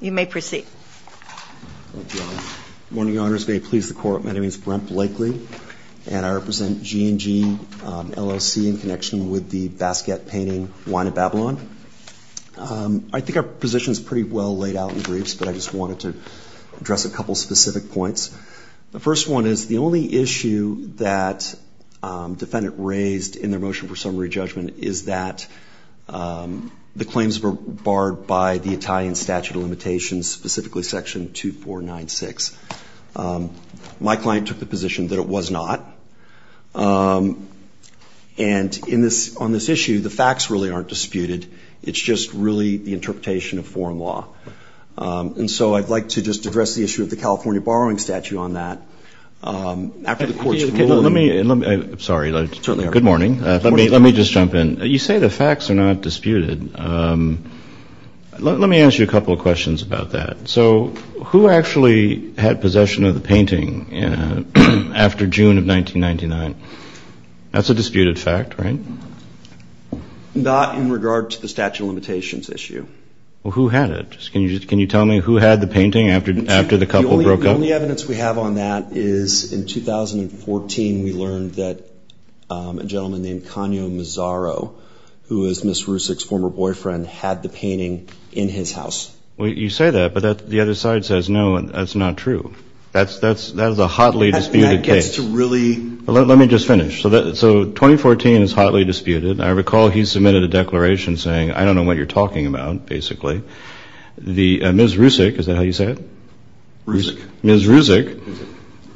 You may proceed. Good morning, Your Honors. May it please the Court, my name is Brent Blakely and I represent G and G LLC in connection with the Basquiat painting Wine at Babylon. I think our position is pretty well laid out in briefs but I just wanted to address a couple specific points. The first one is the only issue that defendant raised in their motion for summary judgment is that the claims were borrowed by the Italian Statute of Limitations, specifically Section 2496. My client took the position that it was not and on this issue, the facts really aren't disputed, it's just really the interpretation of foreign law. And so I'd like to just address the issue of the California borrowing statute on that. After the Court's ruling. Let me, sorry, good morning. Let me just jump in. You say the facts are not disputed. Let me ask you a couple of questions about that. So who actually had possession of the painting after June of 1999? That's a disputed fact, right? Not in regard to the statute of limitations issue. Well, who had it? Can you tell me who had the painting after the couple broke up? The only evidence we have on that is in 2014 we learned that a gentleman named Kanyo Mizaro, who is Ms. Rusick's former boyfriend, had the painting in his house. Well, you say that but the other side says no, that's not true. That's a hotly disputed case. Let me just finish. So 2014 is hotly disputed. I recall he submitted a declaration saying, I don't know what you're talking about, basically. Ms. Rusick, is that how you say it? Rusick. Ms. Rusick.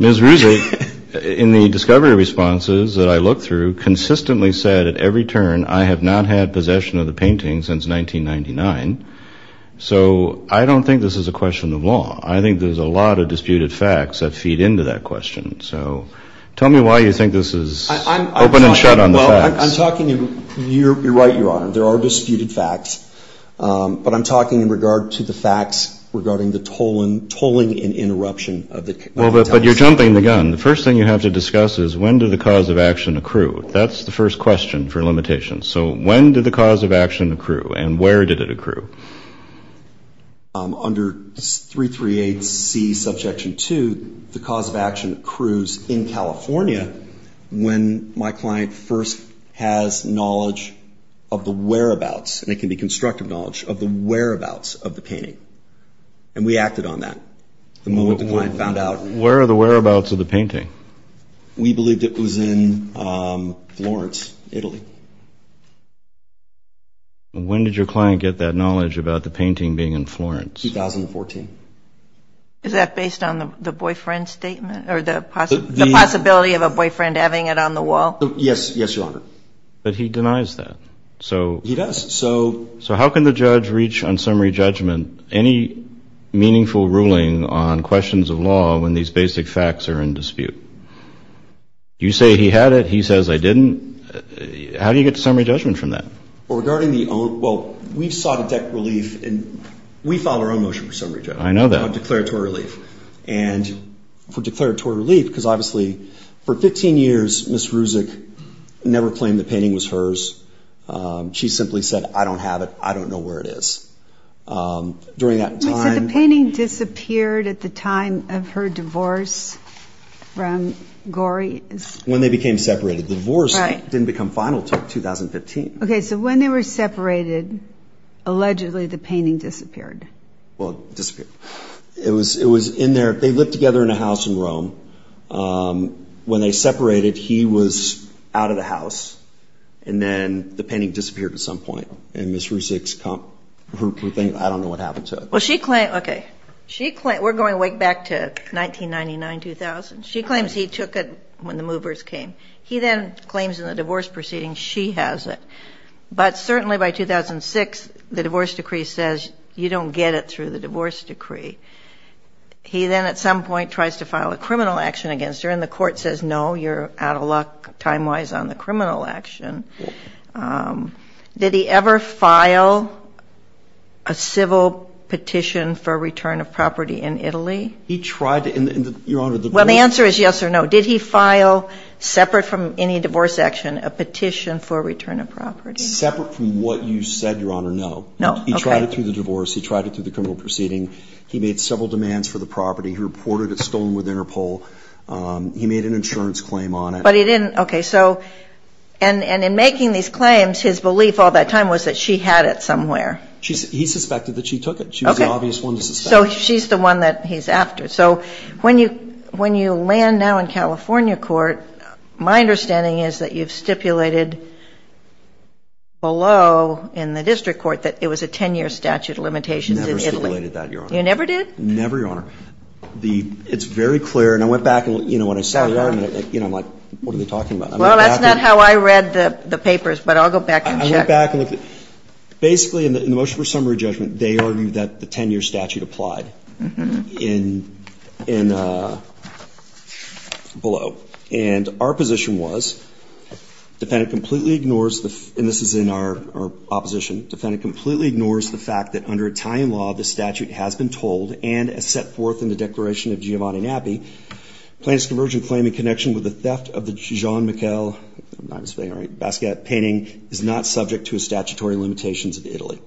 Ms. Rusick, in the discovery responses that I looked through, consistently said at every turn, I have not had possession of the painting since 1999. So I don't think this is a question of law. I think there's a lot of disputed facts that feed into that question. So tell me why you think this is open and shut on the facts. I'm talking, you're right, Your Honor, there are disputed facts. But I'm talking in regard to the facts regarding the tolling and interruption. But you're jumping the gun. The first thing you have to discuss is when did the cause of action accrue? That's the first question for limitations. So when did the cause of action accrue? And where did it accrue? Under 338C Subjection 2, the cause of action accrues in California when my client first has knowledge of the whereabouts. And it can be constructive knowledge of the whereabouts of the painting. And we acted on that the moment the client found out. Where are the whereabouts of the painting? We believed it was in Florence, Italy. When did your client get that knowledge about the painting being in Florence? 2014. Is that based on the boyfriend statement or the possibility of a boyfriend having it on the wall? Yes, Your Honor. But he denies that. He does. So how can the judge reach on summary judgment any meaningful ruling on questions of law when these basic facts are in dispute? You say he had it. He says I didn't. How do you get to summary judgment from that? Well, regarding the own – well, we sought a debt relief and we filed our own motion for summary judgment. I know that. On declaratory relief. And for declaratory relief, because obviously for 15 years Ms. Ruzick never claimed the painting was hers. She simply said, I don't have it. I don't know where it is. During that time – So the painting disappeared at the time of her divorce from Gorey? When they became separated. The divorce didn't become final until 2015. Okay, so when they were separated, allegedly the painting disappeared. Well, it disappeared. It was in their – they lived together in a house in Rome. When they separated, he was out of the house. And then the painting disappeared at some point. And Ms. Ruzick's – I don't know what happened to it. Well, she claimed – okay. We're going way back to 1999, 2000. She claims he took it when the movers came. He then claims in the divorce proceeding she has it. But certainly by 2006, the divorce decree says you don't get it through the divorce decree. He then at some point tries to file a criminal action against her. And the court says, no, you're out of luck time-wise on the criminal action. Did he ever file a civil petition for return of property in Italy? He tried to in the – Your Honor, the – Well, the answer is yes or no. Did he file, separate from any divorce action, a petition for return of property? Separate from what you said, Your Honor, no. No, okay. He tried it through the divorce. He tried it through the criminal proceeding. He made several demands for the property. He reported it stolen within her pole. He made an insurance claim on it. But he didn't – okay. So – and in making these claims, his belief all that time was that she had it somewhere. He suspected that she took it. She was the obvious one to suspect. So she's the one that he's after. So when you – when you land now in California court, my understanding is that you've stipulated below in the district court that it was a 10-year statute of limitations in Italy. I never stipulated that, Your Honor. You never did? Never, Your Honor. The – it's very clear. And I went back and, you know, when I studied it, I'm like, what are they talking about? Well, that's not how I read the papers, but I'll go back and check. I went back and looked at – basically, in the motion for summary judgment, they argued that the 10-year statute applied in – below. And our position was defendant completely ignores the – and this is in our opposition. Defendant completely ignores the fact that under Italian law, the statute has been told and set forth in the Declaration of Giovanni Gnappi, plaintiff's convergent claim in connection with the theft of the Jean-Michel – I'm not spelling it right – Basquiat painting is not subject to statutory limitations of Italy.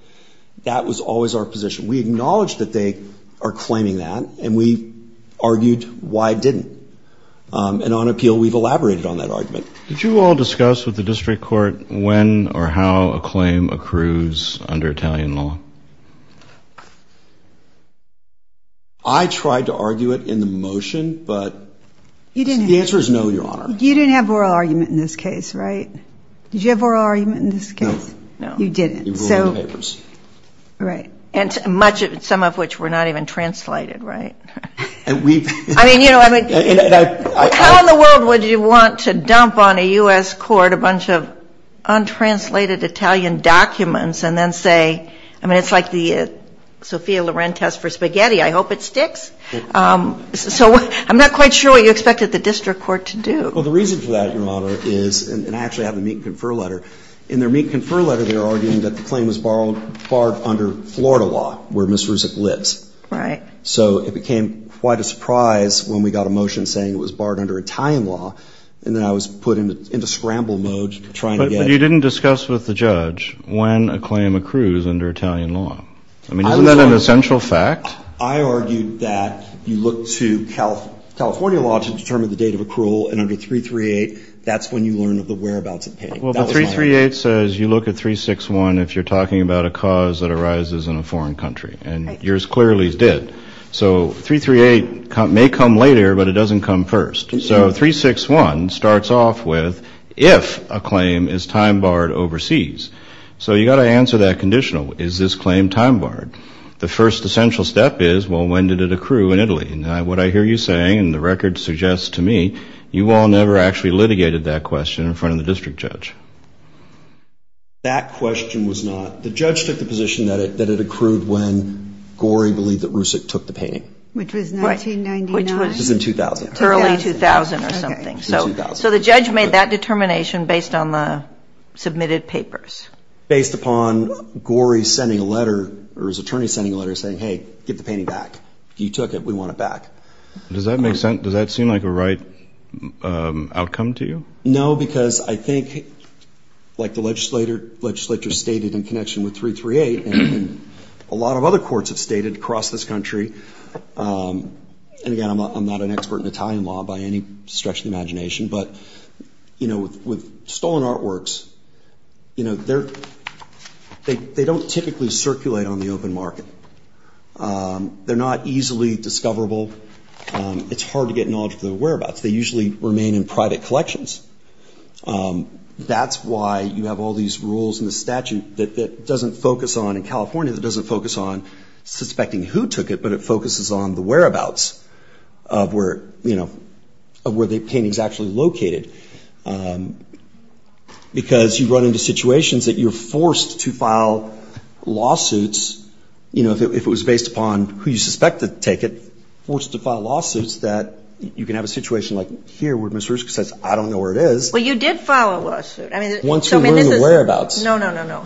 That was always our position. We acknowledge that they are claiming that, and we argued why it didn't. And on appeal, we've elaborated on that argument. Did you all discuss with the district court when or how a claim accrues under Italian law? I tried to argue it in the motion, but the answer is no, Your Honor. You didn't have oral argument in this case, right? Did you have oral argument in this case? No. No. You didn't. We ruled in the papers. Right. And much of – some of which were not even translated, right? And we've – I mean, you know – And I – How in the world would you want to dump on a U.S. court a bunch of untranslated Italian documents and then say – I mean, it's like the Sophia Loren test for spaghetti. I hope it sticks. So I'm not quite sure what you expected the district court to do. Well, the reason for that, Your Honor, is – and I actually have the meet and confer letter. In their meet and confer letter, they're arguing that the claim was barred under Florida law, where Ms. Ruzic lives. Right. So it became quite a surprise when we got a motion saying it was barred under Italian law, and then I was put into scramble mode trying to get – But you didn't discuss with the judge when a claim accrues under Italian law. I mean, isn't that an essential fact? I argued that you look to California law to determine the date of accrual, and under 338, that's when you learn of the whereabouts of pay. Well, the 338 says you look at 361 if you're talking about a cause that arises in a foreign country, and yours clearly did. So 338 may come later, but it doesn't come first. So 361 starts off with if a claim is time-barred overseas. So you've got to answer that conditional. Is this claim time-barred? The first essential step is, well, when did it accrue in Italy? And what I hear you saying, and the record suggests to me, you all never actually litigated that question in front of the district judge. That question was not – the judge took the position that it accrued when Gorey believed that Rusick took the painting. Which was 1999. Which was in 2000. Early 2000 or something. Okay. So the judge made that determination based on the submitted papers. Based upon Gorey sending a letter, or his attorney sending a letter saying, hey, get the painting back. You took it. We want it back. Does that make sense? Does that seem like a right outcome to you? No, because I think, like the legislature stated in connection with 338, and a lot of other courts have stated across this country, and, again, I'm not an expert in Italian law by any stretch of the imagination, but with stolen artworks, they don't typically circulate on the open market. They're not easily discoverable. It's hard to get knowledge of their whereabouts. They usually remain in private collections. That's why you have all these rules in the statute that doesn't focus on, in California, that doesn't focus on suspecting who took it, but it focuses on the whereabouts of where the painting is actually located. Because you run into situations that you're forced to file lawsuits, you know, if it was based upon who you suspect to take it, forced to file lawsuits that you can have a situation like here where Ms. Hruska says, I don't know where it is. Well, you did file a lawsuit. Once we learned the whereabouts. No, no, no, no.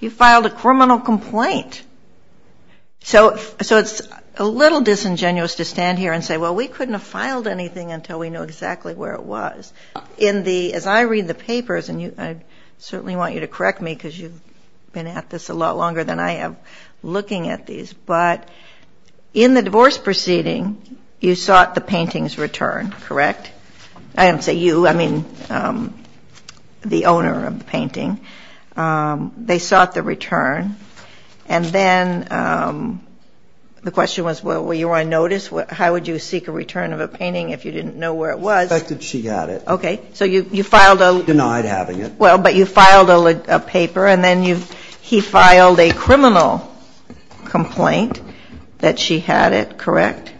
You filed a criminal complaint. So it's a little disingenuous to stand here and say, well, we couldn't have filed anything until we knew exactly where it was. As I read the papers, and I certainly want you to correct me, because you've been at this a lot longer than I have looking at these, but in the divorce proceeding, you sought the painting's return, correct? I didn't say you. I mean the owner of the painting. They sought the return. And then the question was, well, were you on notice? How would you seek a return of a painting if you didn't know where it was? I suspected she had it. Okay. So you filed a lawsuit. Denied having it. Well, but you filed a paper, and then he filed a criminal complaint that she had it, correct?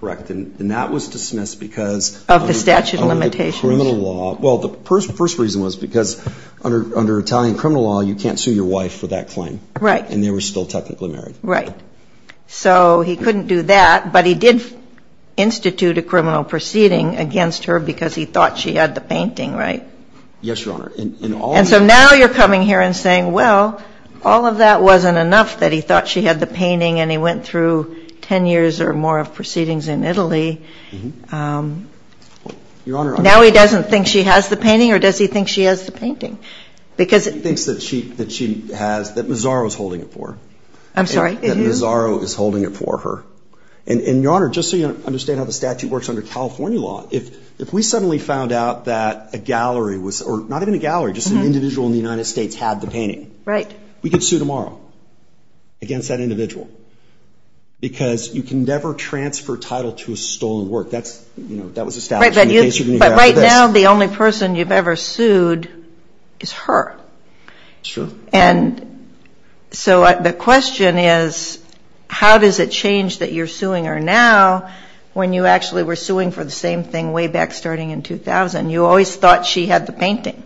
Correct. And that was dismissed because of the criminal law. Of the statute of limitations. Well, the first reason was because under Italian criminal law, you can't sue your wife for that claim. Right. And they were still technically married. Right. So he couldn't do that, but he did institute a criminal proceeding against her because he thought she had the painting, right? Yes, Your Honor. And so now you're coming here and saying, well, all of that wasn't enough that he thought she had the painting and he went through ten years or more of proceedings in Italy. Your Honor. Now he doesn't think she has the painting, or does he think she has the painting? He thinks that she has, that Mazzaro is holding it for her. I'm sorry? That Mazzaro is holding it for her. And, Your Honor, just so you understand how the statute works under California law, if we suddenly found out that a gallery was, or not even a gallery, just an individual in the United States had the painting. Right. We could sue tomorrow against that individual because you can never transfer title to a stolen work. That was established in the case you're going to hear after this. But right now the only person you've ever sued is her. It's true. And so the question is how does it change that you're suing her now when you actually were suing for the same thing way back starting in 2000? You always thought she had the painting.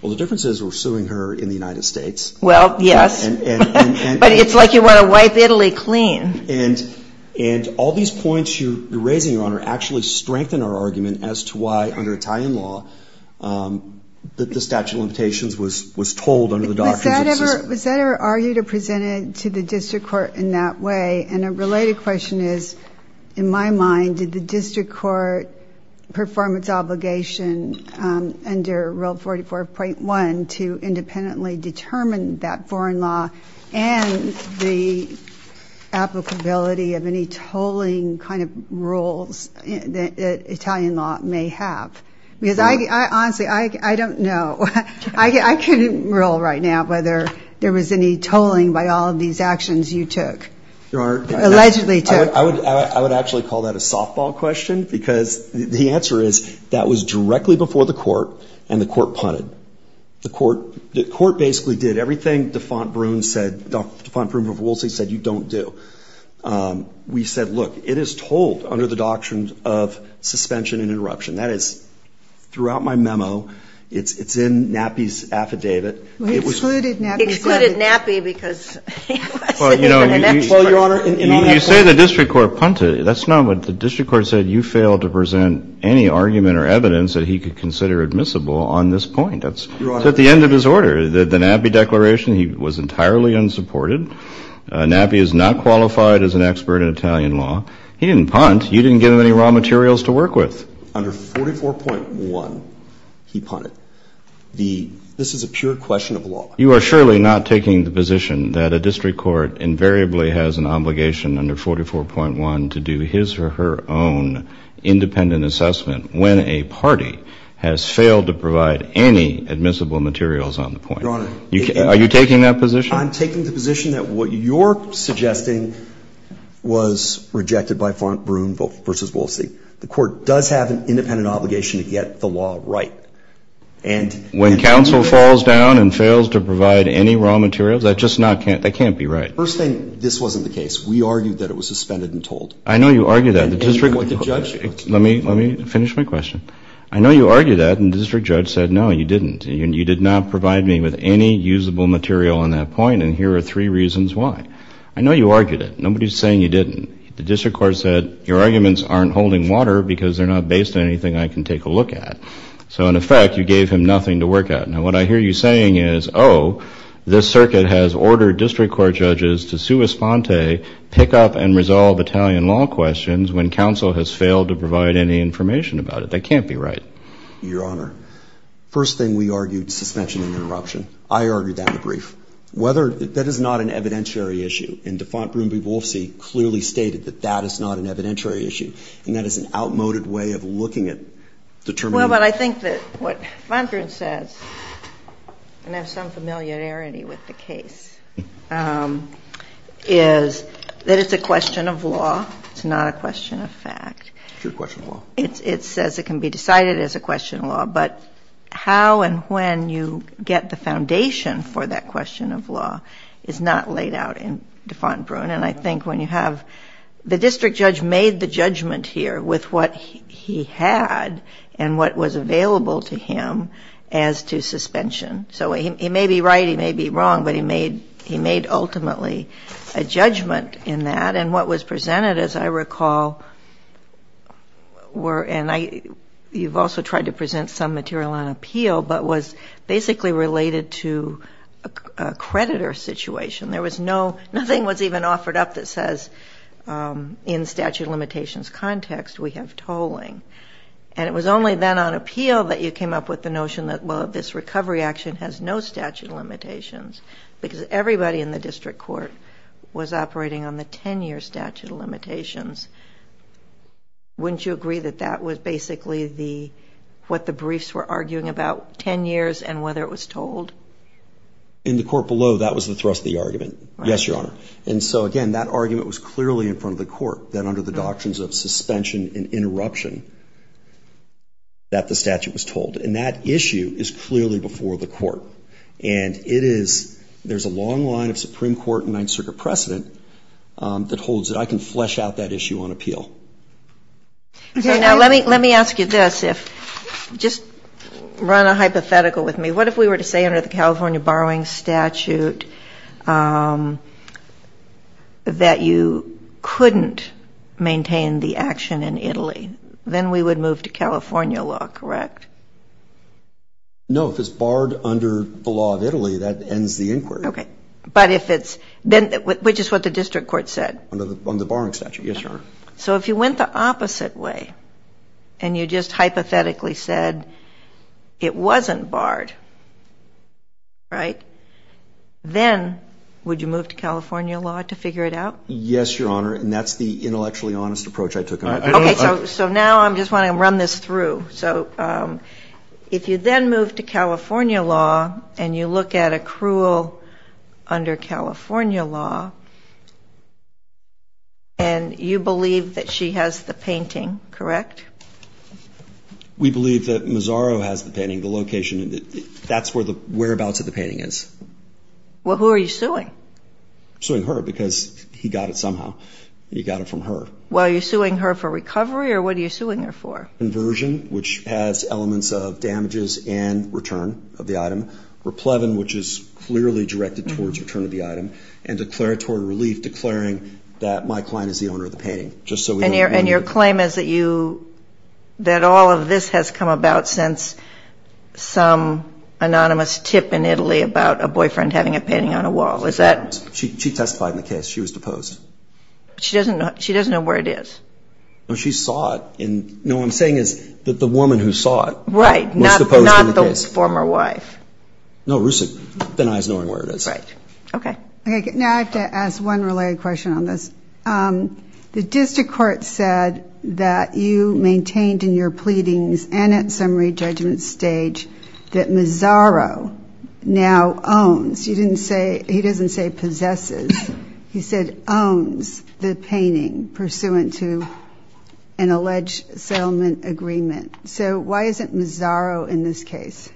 Well, the difference is we're suing her in the United States. Well, yes. But it's like you want to wipe Italy clean. And all these points you're raising, Your Honor, actually strengthen our argument as to why under Italian law the statute of limitations was told under the doctrines of the system. Was that ever argued or presented to the district court in that way? And a related question is, in my mind, did the district court perform its obligation under Rule 44.1 to independently determine that foreign law and the applicability of any tolling kind of rules that Italian law may have? Honestly, I don't know. I couldn't rule right now whether there was any tolling by all of these actions you took, allegedly took. I would actually call that a softball question because the answer is that was directly before the court, and the court punted. The court basically did everything DeFont Broom of Woolsey said you don't do. We said, look, it is told under the doctrines of suspension and interruption. That is throughout my memo. It's in NAPI's affidavit. He excluded NAPI. He excluded NAPI because it was in the connection. Well, Your Honor, in all that. You say the district court punted. That's not what the district court said. You failed to present any argument or evidence that he could consider admissible on this point. That's at the end of his order. The NAPI declaration, he was entirely unsupported. NAPI is not qualified as an expert in Italian law. He didn't punt. You didn't give him any raw materials to work with. Under 44.1, he punted. This is a pure question of law. You are surely not taking the position that a district court invariably has an obligation under 44.1 to do his or her own independent assessment when a party has failed to provide any admissible materials on the point. Your Honor. Are you taking that position? I'm taking the position that what you're suggesting was rejected by DeFont Broom versus Woolsey. The court does have an independent obligation to get the law right. When counsel falls down and fails to provide any raw materials, that just can't be right. First thing, this wasn't the case. We argued that it was suspended and told. I know you argued that. Let me finish my question. I know you argued that, and the district judge said, no, you didn't. You did not provide me with any usable material on that point, and here are three reasons why. I know you argued it. Nobody is saying you didn't. The district court said, your arguments aren't holding water because they're not based on anything I can take a look at. So, in effect, you gave him nothing to work at. Now, what I hear you saying is, oh, this circuit has ordered district court judges to sua sponte, pick up and resolve Italian law questions when counsel has failed to provide any information about it. That can't be right. Your Honor, first thing we argued, suspension and interruption. I argued that in the brief. That is not an evidentiary issue, and DeFont Broomby-Wolfsey clearly stated that that is not an evidentiary issue, and that is an outmoded way of looking at determining. Well, but I think that what DeFont Broomby-Wolfsey says, and I have some familiarity with the case, is that it's a question of law. It's not a question of fact. It's a question of law. It says it can be decided as a question of law, but how and when you get the foundation for that question of law is not laid out in DeFont Broom, and I think when you have the district judge made the judgment here with what he had and what was available to him as to suspension. So he may be right, he may be wrong, but he made ultimately a judgment in that, and what was presented, as I recall, were, and you've also tried to present some material on appeal, but was basically related to a creditor situation. Nothing was even offered up that says in statute of limitations context we have tolling, and it was only then on appeal that you came up with the notion that, well, this recovery action has no statute of limitations because everybody in the district court was operating on the 10-year statute of limitations. Wouldn't you agree that that was basically what the briefs were arguing about about 10 years and whether it was told? In the court below, that was the thrust of the argument, yes, Your Honor. And so, again, that argument was clearly in front of the court that under the doctrines of suspension and interruption that the statute was told, and that issue is clearly before the court. And it is, there's a long line of Supreme Court and Ninth Circuit precedent that holds it. I can flesh out that issue on appeal. Now, let me ask you this. Just run a hypothetical with me. What if we were to say under the California borrowing statute that you couldn't maintain the action in Italy? Then we would move to California law, correct? No, if it's barred under the law of Italy, that ends the inquiry. Okay. But if it's, which is what the district court said? On the borrowing statute, yes, Your Honor. So if you went the opposite way and you just hypothetically said it wasn't barred, right, then would you move to California law to figure it out? Yes, Your Honor, and that's the intellectually honest approach I took. Okay, so now I'm just wanting to run this through. So if you then move to California law and you look at accrual under California law and you believe that she has the painting, correct? We believe that Mazzaro has the painting. The location, that's whereabouts of the painting is. Well, who are you suing? I'm suing her because he got it somehow. He got it from her. Well, are you suing her for recovery or what are you suing her for? Inversion, which has elements of damages and return of the item. Replevin, which is clearly directed towards return of the item. And declaratory relief declaring that my client is the owner of the painting. And your claim is that all of this has come about since some anonymous tip in Italy about a boyfriend having a painting on a wall. She testified in the case. She was deposed. She doesn't know where it is. No, she saw it. No, what I'm saying is that the woman who saw it was deposed in the case. Right, not the former wife. No, Rusev denies knowing where it is. Right. Okay. Now I have to ask one related question on this. The district court said that you maintained in your pleadings and at summary judgment stage that Mazzaro now owns. He doesn't say possesses. He said owns the painting pursuant to an alleged settlement agreement. So why isn't Mazzaro in this case?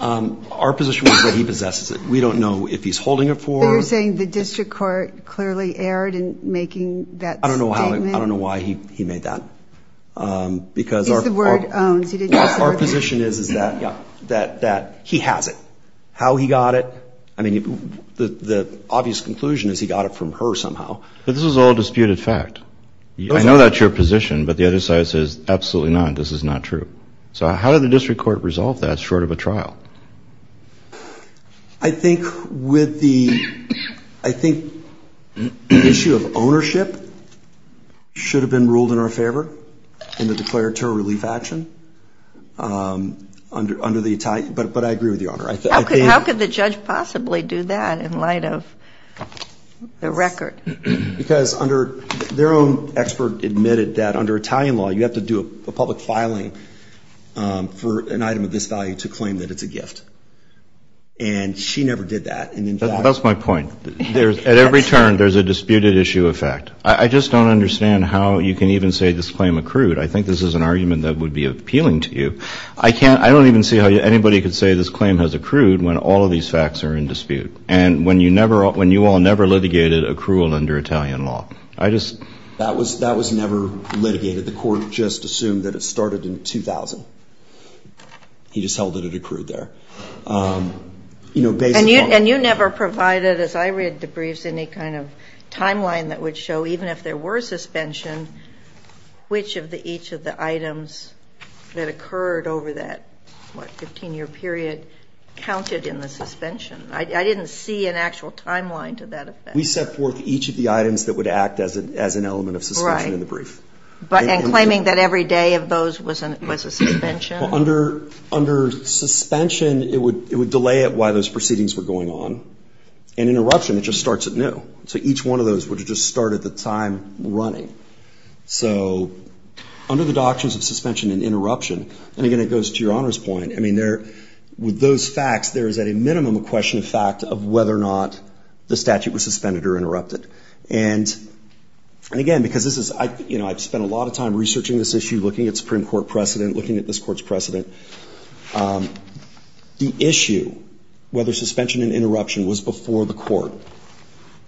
Our position was that he possesses it. We don't know if he's holding it for her. But you're saying the district court clearly erred in making that statement? I don't know why he made that. Because our position is that he has it. How he got it, I mean, the obvious conclusion is he got it from her somehow. But this is all disputed fact. I know that's your position, but the other side says absolutely not, this is not true. So how did the district court resolve that short of a trial? I think with the issue of ownership should have been ruled in our favor in the declared terror relief action. But I agree with Your Honor. How could the judge possibly do that in light of the record? Because their own expert admitted that under Italian law, you have to do a public filing for an item of this value to claim that it's a gift. And she never did that. That's my point. At every turn, there's a disputed issue of fact. I just don't understand how you can even say this claim accrued. I think this is an argument that would be appealing to you. I don't even see how anybody could say this claim has accrued when all of these facts are in dispute and when you all never litigated accrual under Italian law. That was never litigated. The court just assumed that it started in 2000. He just held that it accrued there. And you never provided, as I read the briefs, any kind of timeline that would show even if there were suspension, which of each of the items that occurred over that 15-year period counted in the suspension. I didn't see an actual timeline to that effect. We set forth each of the items that would act as an element of suspension in the brief. And claiming that every day of those was a suspension? Under suspension, it would delay it while those proceedings were going on. And interruption, it just starts anew. So each one of those would just start at the time running. So under the doctrines of suspension and interruption, and again it goes to Your Honor's point, with those facts, there is at a minimum a question of fact of whether or not the statute was suspended or interrupted. And again, because I've spent a lot of time researching this issue, looking at Supreme Court precedent, looking at this court's precedent. The issue, whether suspension and interruption, was before the court.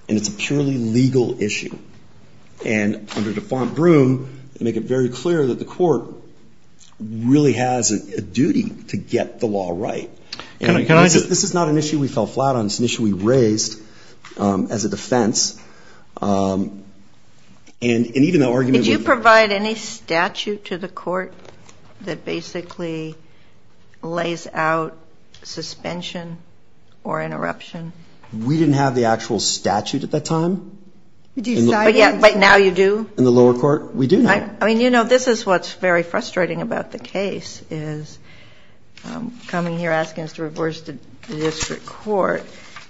And it's a purely legal issue. And under defaunt broom, they make it very clear that the court really has a duty to get the law right. And this is not an issue we fell flat on. It's an issue we raised as a defense. And even though argument would be... Did you provide any statute to the court that basically lays out suspension or interruption? We didn't have the actual statute at that time. But now you do? In the lower court, we do now. I mean, you know, this is what's very frustrating about the case, is coming here asking us to reverse the district court,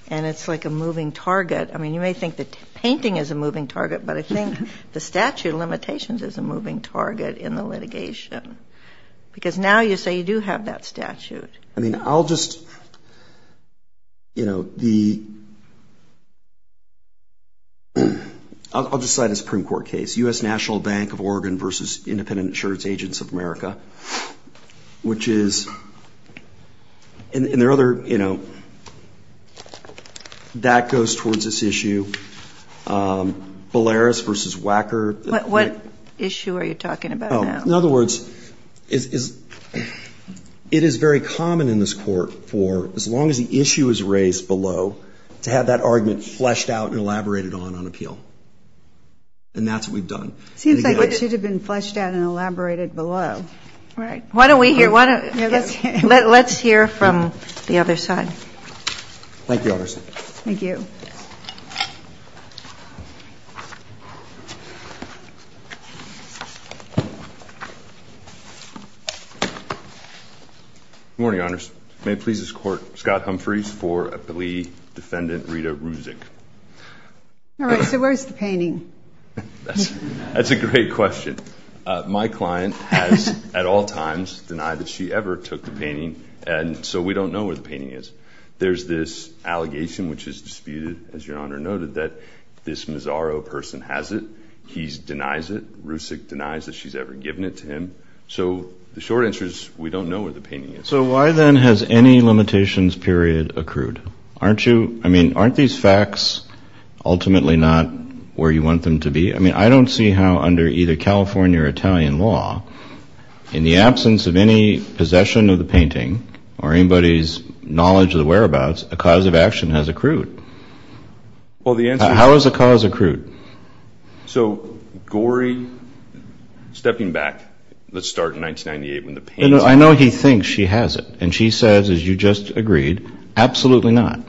and it's like a moving target. I mean, you may think the painting is a moving target, but I think the statute of limitations is a moving target in the litigation. Because now you say you do have that statute. I mean, I'll just, you know, the... I'll just cite a Supreme Court case, U.S. National Bank of Oregon versus Independent Insurance Agents of America, which is... And there are other, you know... That goes towards this issue. Belarus versus WACKER. What issue are you talking about now? In other words, it is very common in this court, for as long as the issue is raised below, to have that argument fleshed out and elaborated on on appeal. And that's what we've done. Seems like it should have been fleshed out and elaborated below. Right. Why don't we hear... Let's hear from the other side. Thank you, Your Honor. Thank you. Good morning, Your Honors. May it please this Court, Scott Humphreys for a plea, Defendant Rita Rusick. All right. So where's the painting? That's a great question. My client has at all times denied that she ever took the painting, and so we don't know where the painting is. There's this allegation, which is disputed, as Your Honor noted, that this Mazzaro person has it. He denies it. Rusick denies that she's ever given it to him. So the short answer is we don't know where the painting is. So why then has any limitations period accrued? Aren't these facts ultimately not where you want them to be? I mean, I don't see how under either California or Italian law, in the absence of any possession of the painting or anybody's knowledge of the whereabouts, a cause of action has accrued. How has a cause accrued? So, Gorey, stepping back, let's start in 1998 when the painting was found. I know he thinks she has it. And she says, as you just agreed, absolutely not.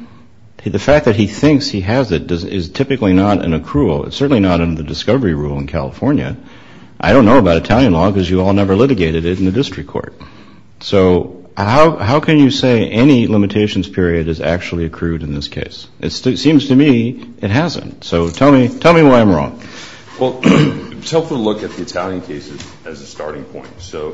The fact that he thinks he has it is typically not an accrual. It's certainly not under the discovery rule in California. I don't know about Italian law because you all never litigated it in the district court. So how can you say any limitations period has actually accrued in this case? It seems to me it hasn't. So tell me why I'm wrong. Well, it's helpful to look at the Italian cases as a starting point. So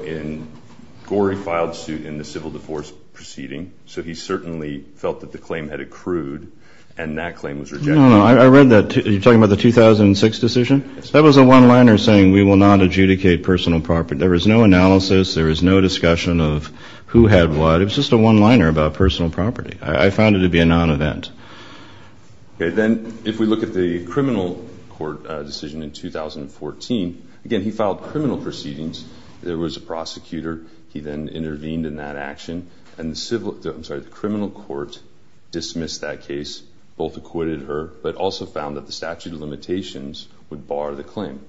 Gorey filed suit in the civil divorce proceeding, so he certainly felt that the claim had accrued and that claim was rejected. No, I read that. Are you talking about the 2006 decision? That was a one-liner saying we will not adjudicate personal property. There was no analysis. There was no discussion of who had what. It was just a one-liner about personal property. I found it to be a non-event. Then if we look at the criminal court decision in 2014, again, he filed criminal proceedings. There was a prosecutor. He then intervened in that action. And the criminal court dismissed that case, both acquitted her, but also found that the statute of limitations would bar the claim.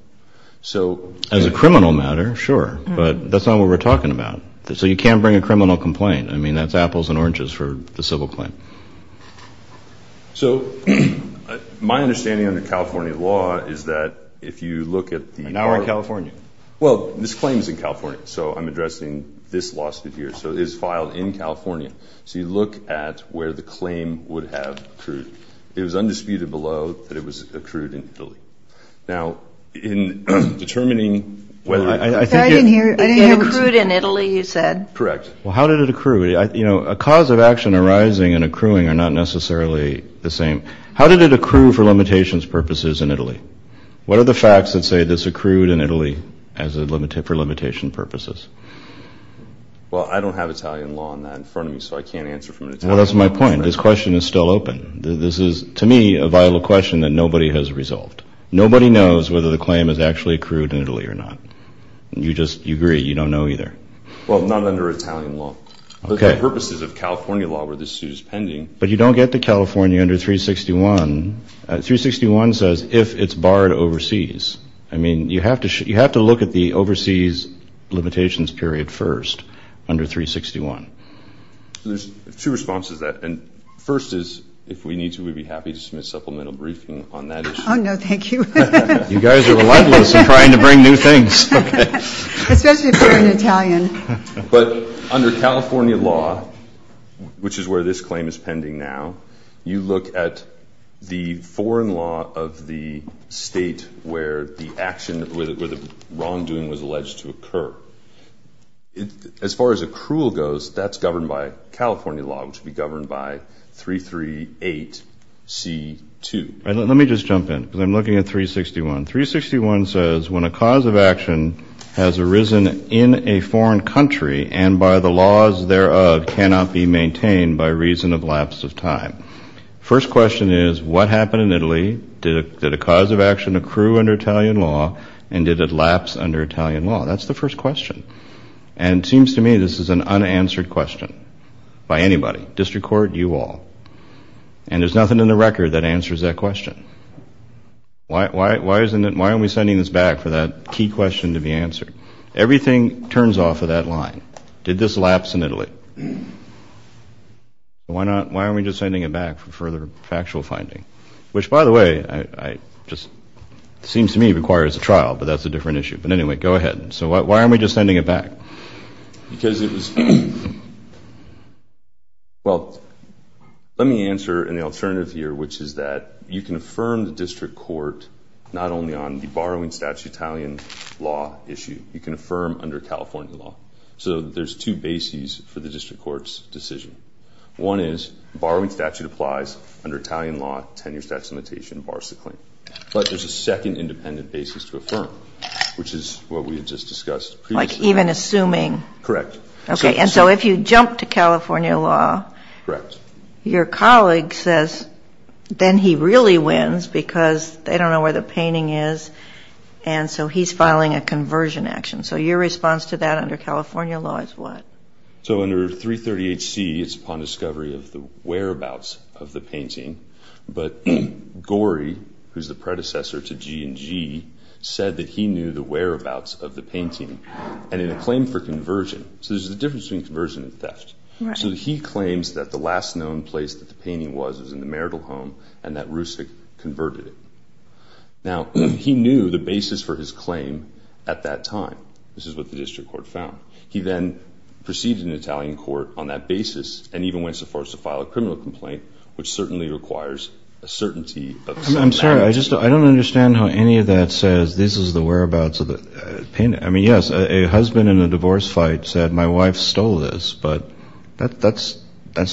As a criminal matter, sure, but that's not what we're talking about. So you can't bring a criminal complaint. I mean, that's apples and oranges for the civil claim. So my understanding on the California law is that if you look at the part of the law. Now we're in California. Well, this claim is in California, so I'm addressing this lawsuit here. So it is filed in California. So you look at where the claim would have accrued. It was undisputed below that it was accrued in Italy. Now, in determining whether it was accrued in Italy, you said? Correct. Well, how did it accrue? You know, a cause of action arising and accruing are not necessarily the same. How did it accrue for limitations purposes in Italy? What are the facts that say this accrued in Italy for limitation purposes? Well, I don't have Italian law on that in front of me, so I can't answer from an Italian lawyer. Well, that's my point. This question is still open. This is, to me, a vital question that nobody has resolved. Nobody knows whether the claim has actually accrued in Italy or not. You just agree. You don't know either. Okay. Well, not under Italian law. Okay. Those are the purposes of California law where this suit is pending. But you don't get to California under 361. 361 says if it's barred overseas. I mean, you have to look at the overseas limitations period first under 361. There's two responses to that. First is, if we need to, we'd be happy to submit a supplemental briefing on that issue. Oh, no, thank you. You guys are relentless in trying to bring new things. Especially if you're an Italian. But under California law, which is where this claim is pending now, you look at the foreign law of the state where the wrongdoing was alleged to occur. As far as accrual goes, that's governed by California law, which would be governed by 338C2. Let me just jump in because I'm looking at 361. 361 says when a cause of action has arisen in a foreign country and by the laws thereof cannot be maintained by reason of lapse of time. First question is, what happened in Italy? Did a cause of action accrue under Italian law, and did it lapse under Italian law? That's the first question. And it seems to me this is an unanswered question by anybody, district court, you all. And there's nothing in the record that answers that question. Why aren't we sending this back for that key question to be answered? Everything turns off of that line. Did this lapse in Italy? Why aren't we just sending it back for further factual finding? Which, by the way, just seems to me requires a trial, but that's a different issue. But anyway, go ahead. So why aren't we just sending it back? Because it was – well, let me answer in the alternative here, which is that you can affirm the district court not only on the borrowing statute Italian law issue. You can affirm under California law. So there's two bases for the district court's decision. One is the borrowing statute applies under Italian law, tenure statute limitation bars the claim. But there's a second independent basis to affirm, which is what we had just discussed previously. Like even assuming – Correct. Okay. And so if you jump to California law – Correct. Your colleague says then he really wins because they don't know where the painting is, and so he's filing a conversion action. So your response to that under California law is what? So under 338C, it's upon discovery of the whereabouts of the painting. But Gori, who's the predecessor to G&G, said that he knew the whereabouts of the painting. And in a claim for conversion – so there's a difference between conversion and theft. So he claims that the last known place that the painting was was in the marital home and that Rusik converted it. Now, he knew the basis for his claim at that time. This is what the district court found. He then proceeded in Italian court on that basis and even went so far as to file a criminal complaint, which certainly requires a certainty of some magnitude. I don't understand how any of that says this is the whereabouts of the painting. I mean, yes, a husband in a divorce fight said, my wife stole this, but that's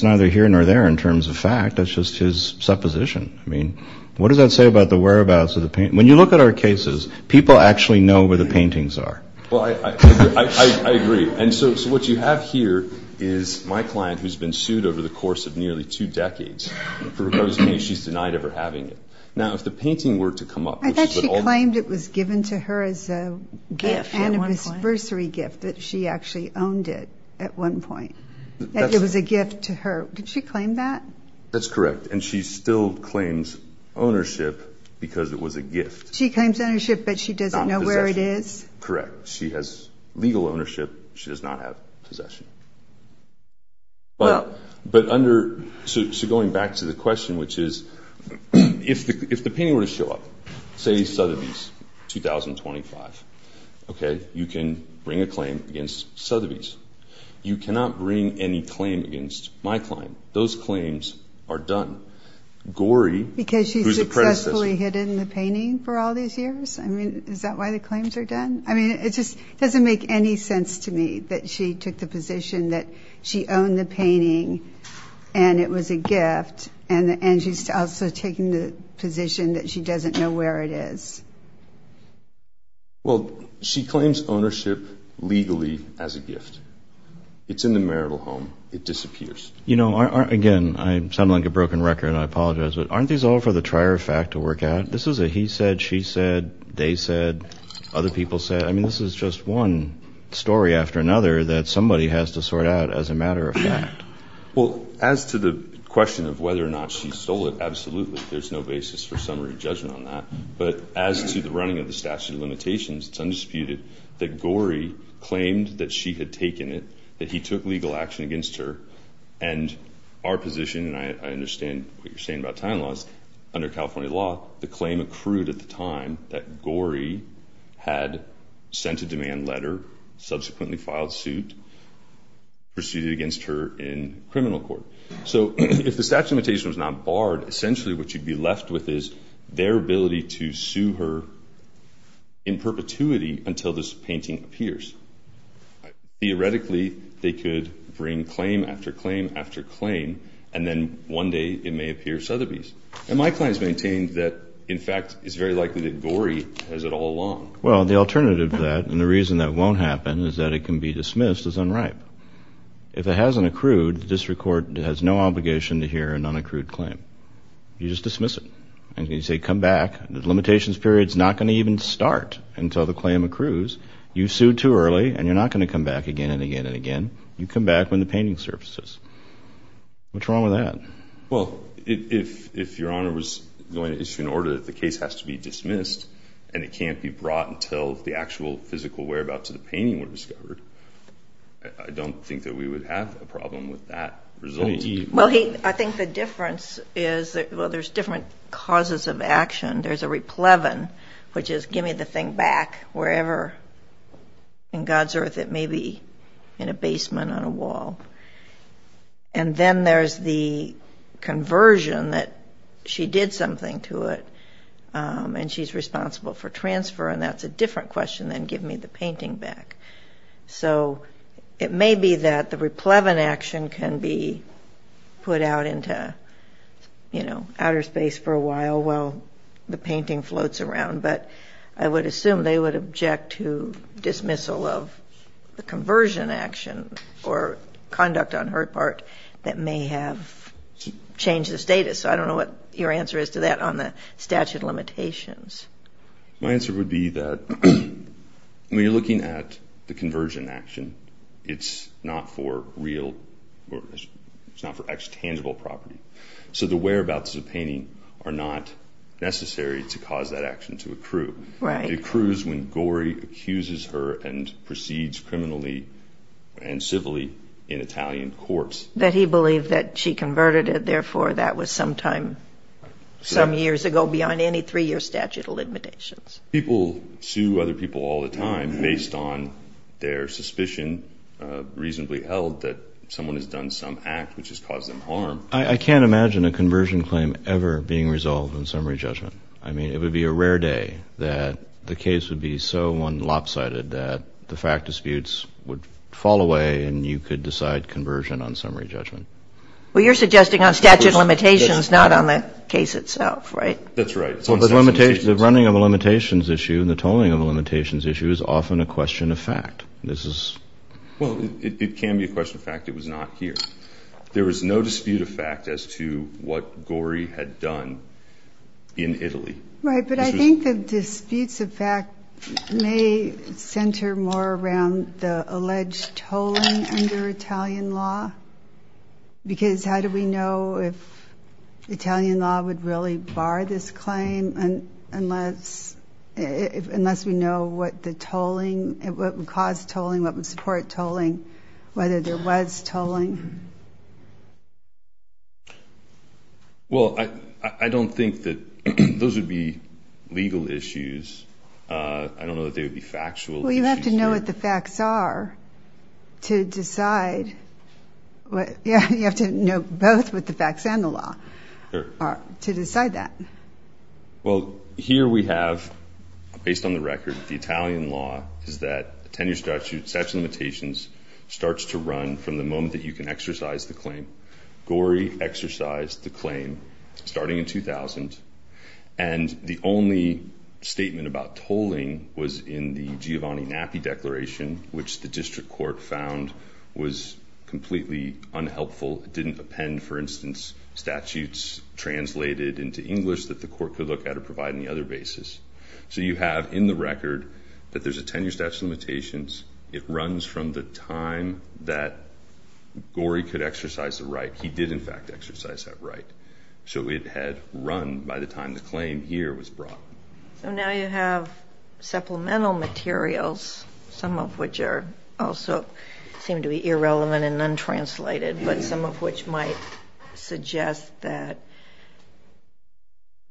neither here nor there in terms of fact. That's just his supposition. I mean, what does that say about the whereabouts of the painting? When you look at our cases, people actually know where the paintings are. Well, I agree. And so what you have here is my client, who's been sued over the course of nearly two decades. For her case, she's denied ever having it. Now, if the painting were to come up. I thought she claimed it was given to her as a gift, anniversary gift, that she actually owned it at one point. That it was a gift to her. Did she claim that? That's correct. And she still claims ownership because it was a gift. She claims ownership, but she doesn't know where it is? Not in possession. Correct. She has legal ownership. She does not have possession. So going back to the question, which is, if the painting were to show up, say Sotheby's 2025, okay, you can bring a claim against Sotheby's. You cannot bring any claim against my client. Gorey, who's the predecessor. Because she successfully hid it in the painting for all these years? I mean, is that why the claims are done? I mean, it just doesn't make any sense to me that she took the position that she owned the painting and it was a gift, and she's also taking the position that she doesn't know where it is. Well, she claims ownership legally as a gift. It's in the marital home. It disappears. You know, again, I sound like a broken record, and I apologize, but aren't these all for the trier of fact to work out? This is a he said, she said, they said, other people said, I mean, this is just one story after another that somebody has to sort out as a matter of fact. Well, as to the question of whether or not she stole it, absolutely. There's no basis for summary judgment on that. But as to the running of the statute of limitations, it's undisputed that Gorey claimed that she had taken it, that he took legal action against her. And our position, and I understand what you're saying about time loss, under California law, the claim accrued at the time that Gorey had sent a demand letter, subsequently filed suit, proceeded against her in criminal court. So if the statute of limitations was not barred, essentially what you'd be left with is their ability to sue her in perpetuity until this painting appears. Theoretically, they could bring claim after claim after claim, and then one day it may appear Sotheby's. And my claim is maintained that, in fact, it's very likely that Gorey has it all along. Well, the alternative to that, and the reason that it won't happen, is that it can be dismissed as unripe. If it hasn't accrued, the district court has no obligation to hear a non-accrued claim. You just dismiss it. And you say, come back. The limitations period is not going to even start until the claim accrues. You sued too early, and you're not going to come back again and again and again. You come back when the painting surfaces. What's wrong with that? Well, if Your Honor was going to issue an order that the case has to be dismissed and it can't be brought until the actual physical whereabouts of the painting were discovered, I don't think that we would have a problem with that result. Well, I think the difference is, well, there's different causes of action. There's a replevin, which is, give me the thing back, wherever in God's earth it may be, in a basement, on a wall. And then there's the conversion, that she did something to it, and she's responsible for transfer. And that's a different question than give me the painting back. So it may be that the replevin action can be put out into outer space for a while while the painting floats around. But I would assume they would object to dismissal of the conversion action or conduct on her part that may have changed the status. So I don't know what your answer is to that on the statute of limitations. My answer would be that when you're looking at the conversion action, it's not for real or it's not for extangible property. So the whereabouts of the painting are not necessary to cause that action to accrue. It accrues when Gorey accuses her and proceeds criminally and civilly in Italian courts. That he believed that she converted it, therefore that was sometime some years ago beyond any three-year statute of limitations. People sue other people all the time based on their suspicion reasonably held that someone has done some act which has caused them harm. I can't imagine a conversion claim ever being resolved in summary judgment. I mean, it would be a rare day that the case would be so one lopsided that the fact disputes would fall away and you could decide conversion on summary judgment. Well, you're suggesting on statute of limitations not on the case itself, right? That's right. Well, the running of a limitations issue and the tolling of a limitations issue is often a question of fact. Well, it can be a question of fact. It was not here. There was no dispute of fact as to what Gorey had done in Italy. Right, but I think the disputes of fact may center more around the alleged tolling under Italian law because how do we know if Italian law would really bar this claim unless we know what the tolling, what would cause tolling, what would support tolling, whether there was tolling? Well, I don't think that those would be legal issues. I don't know that they would be factual issues. Well, you have to know what the facts are to decide. You have to know both with the facts and the law to decide that. Well, here we have, based on the record, the Italian law is that the tenure statute, statute of limitations, starts to run from the moment that you can exercise the claim. Gorey exercised the claim starting in 2000, and the only statement about tolling was in the Giovanni Nappi Declaration, which the district court found was completely unhelpful. It didn't append, for instance, statutes translated into English that the court could look at or provide on the other basis. So you have in the record that there's a tenure statute of limitations. It runs from the time that Gorey could exercise the right. He did, in fact, exercise that right. So it had run by the time the claim here was brought. So now you have supplemental materials, some of which also seem to be irrelevant and untranslated, but some of which might suggest that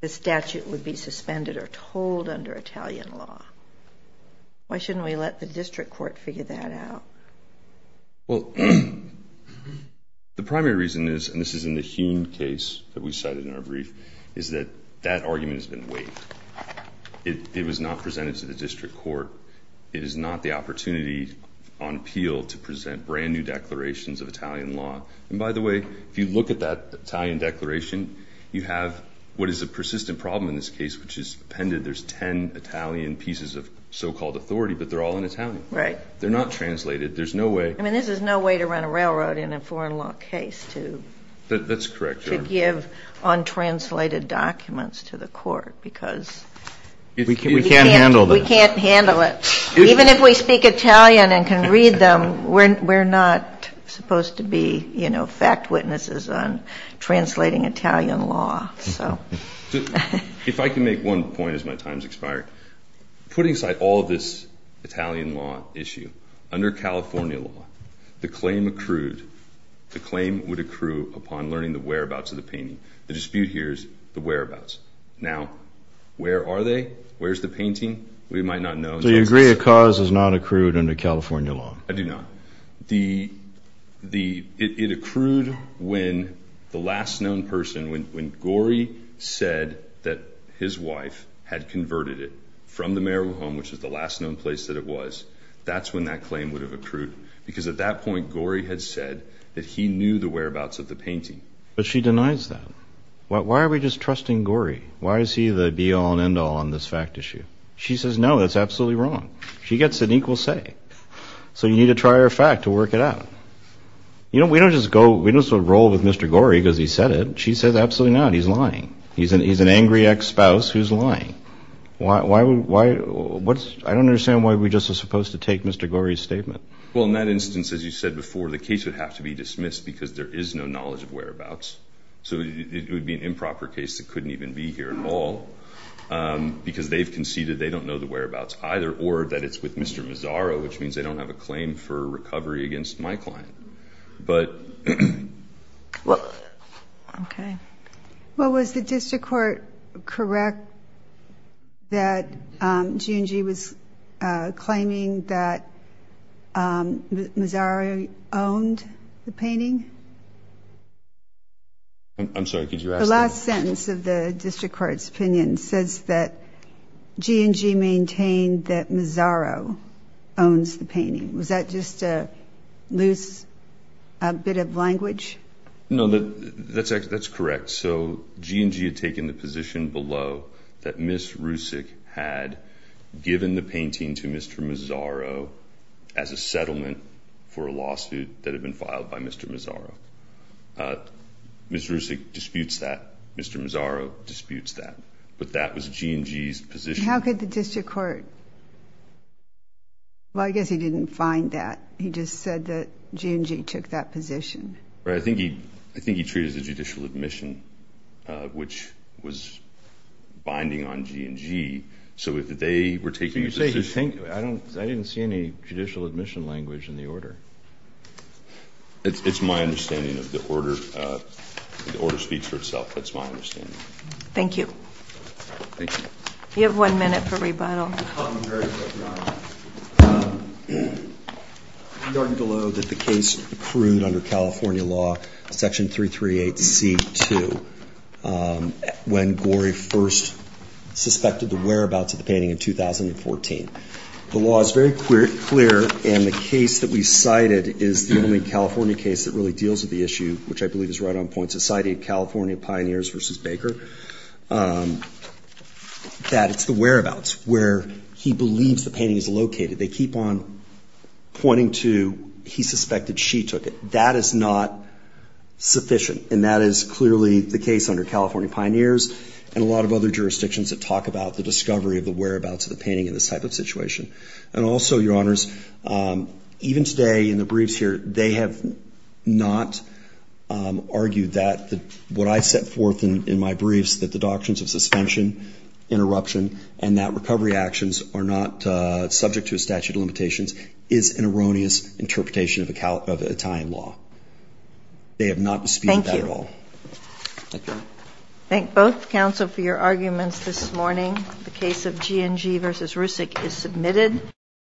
the statute would be suspended or tolled under Italian law. Why shouldn't we let the district court figure that out? Well, the primary reason is, and this is in the Heun case that we cited in our brief, is that that argument has been waived. It was not presented to the district court. It is not the opportunity on appeal to present brand-new declarations of Italian law. And by the way, if you look at that Italian declaration, you have what is a persistent problem in this case, which is appended. There's 10 Italian pieces of so-called authority, but they're all in Italian. They're not translated. There's no way. I mean, this is no way to run a railroad in a foreign law case to give untranslated documents to the court because... We can't handle this. We can't handle it. Even if we speak Italian and can read them, we're not supposed to be fact witnesses on translating Italian law. If I can make one point as my time has expired, putting aside all of this Italian law issue, under California law, the claim accrued. The claim would accrue upon learning the whereabouts of the painting. The dispute here is the whereabouts. Now, where are they? Where's the painting? We might not know. So you agree a cause is not accrued under California law? I do not. It accrued when the last known person, when Gorey said that his wife had converted it from the marital home, which is the last known place that it was, that's when that claim would have accrued because at that point Gorey had said that he knew the whereabouts of the painting. But she denies that. Why are we just trusting Gorey? Why is he the be-all and end-all on this fact issue? She says, no, that's absolutely wrong. She gets an equal say. So you need to try her fact to work it out. You know, we don't just roll with Mr. Gorey because he said it. She says, absolutely not, he's lying. He's an angry ex-spouse who's lying. I don't understand why we're just supposed to take Mr. Gorey's statement. Well, in that instance, as you said before, the case would have to be dismissed because there is no knowledge of whereabouts. So it would be an improper case that couldn't even be here at all because they've conceded they don't know the whereabouts either, or that it's with Mr. Mazzaro, which means they don't have a claim for recovery against my client. Okay. Well, was the district court correct that G&G was claiming that Mazzaro owned the painting? I'm sorry, could you ask that? The last sentence of the district court's opinion says that G&G maintained that Mazzaro owns the painting. Was that just a loose bit of language? No, that's correct. So G&G had taken the position below that Ms. Rusick had given the painting to Mr. Mazzaro as a settlement for a lawsuit that had been filed by Mr. Mazzaro. Ms. Rusick disputes that. Mr. Mazzaro disputes that. But that was G&G's position. How could the district court – well, I guess he didn't find that. He just said that G&G took that position. I think he treated it as judicial admission, which was binding on G&G. So if they were taking a position – I didn't see any judicial admission language in the order. It's my understanding of the order. The order speaks for itself. That's my understanding. Thank you. You have one minute for rebuttal. You argued below that the case accrued under California law, Section 338C2, when Gorey first suspected the whereabouts of the painting in 2014. The law is very clear, and the case that we cited is the only California case that really deals with the issue, which I believe is right on point, Society of California Pioneers v. Baker, that it's the whereabouts where he believes the painting is located. They keep on pointing to he suspected she took it. That is not sufficient, and that is clearly the case under California Pioneers and a lot of other jurisdictions that talk about the discovery of the whereabouts of the painting in this type of situation. And also, Your Honors, even today in the briefs here, they have not argued that what I set forth in my briefs, that the doctrines of suspension, interruption, and that recovery actions are not subject to a statute of limitations, is an erroneous interpretation of Italian law. They have not disputed that at all. Thank you. Thank you. Thank both counsel for your arguments this morning. The case of G&G v. Rusick is submitted.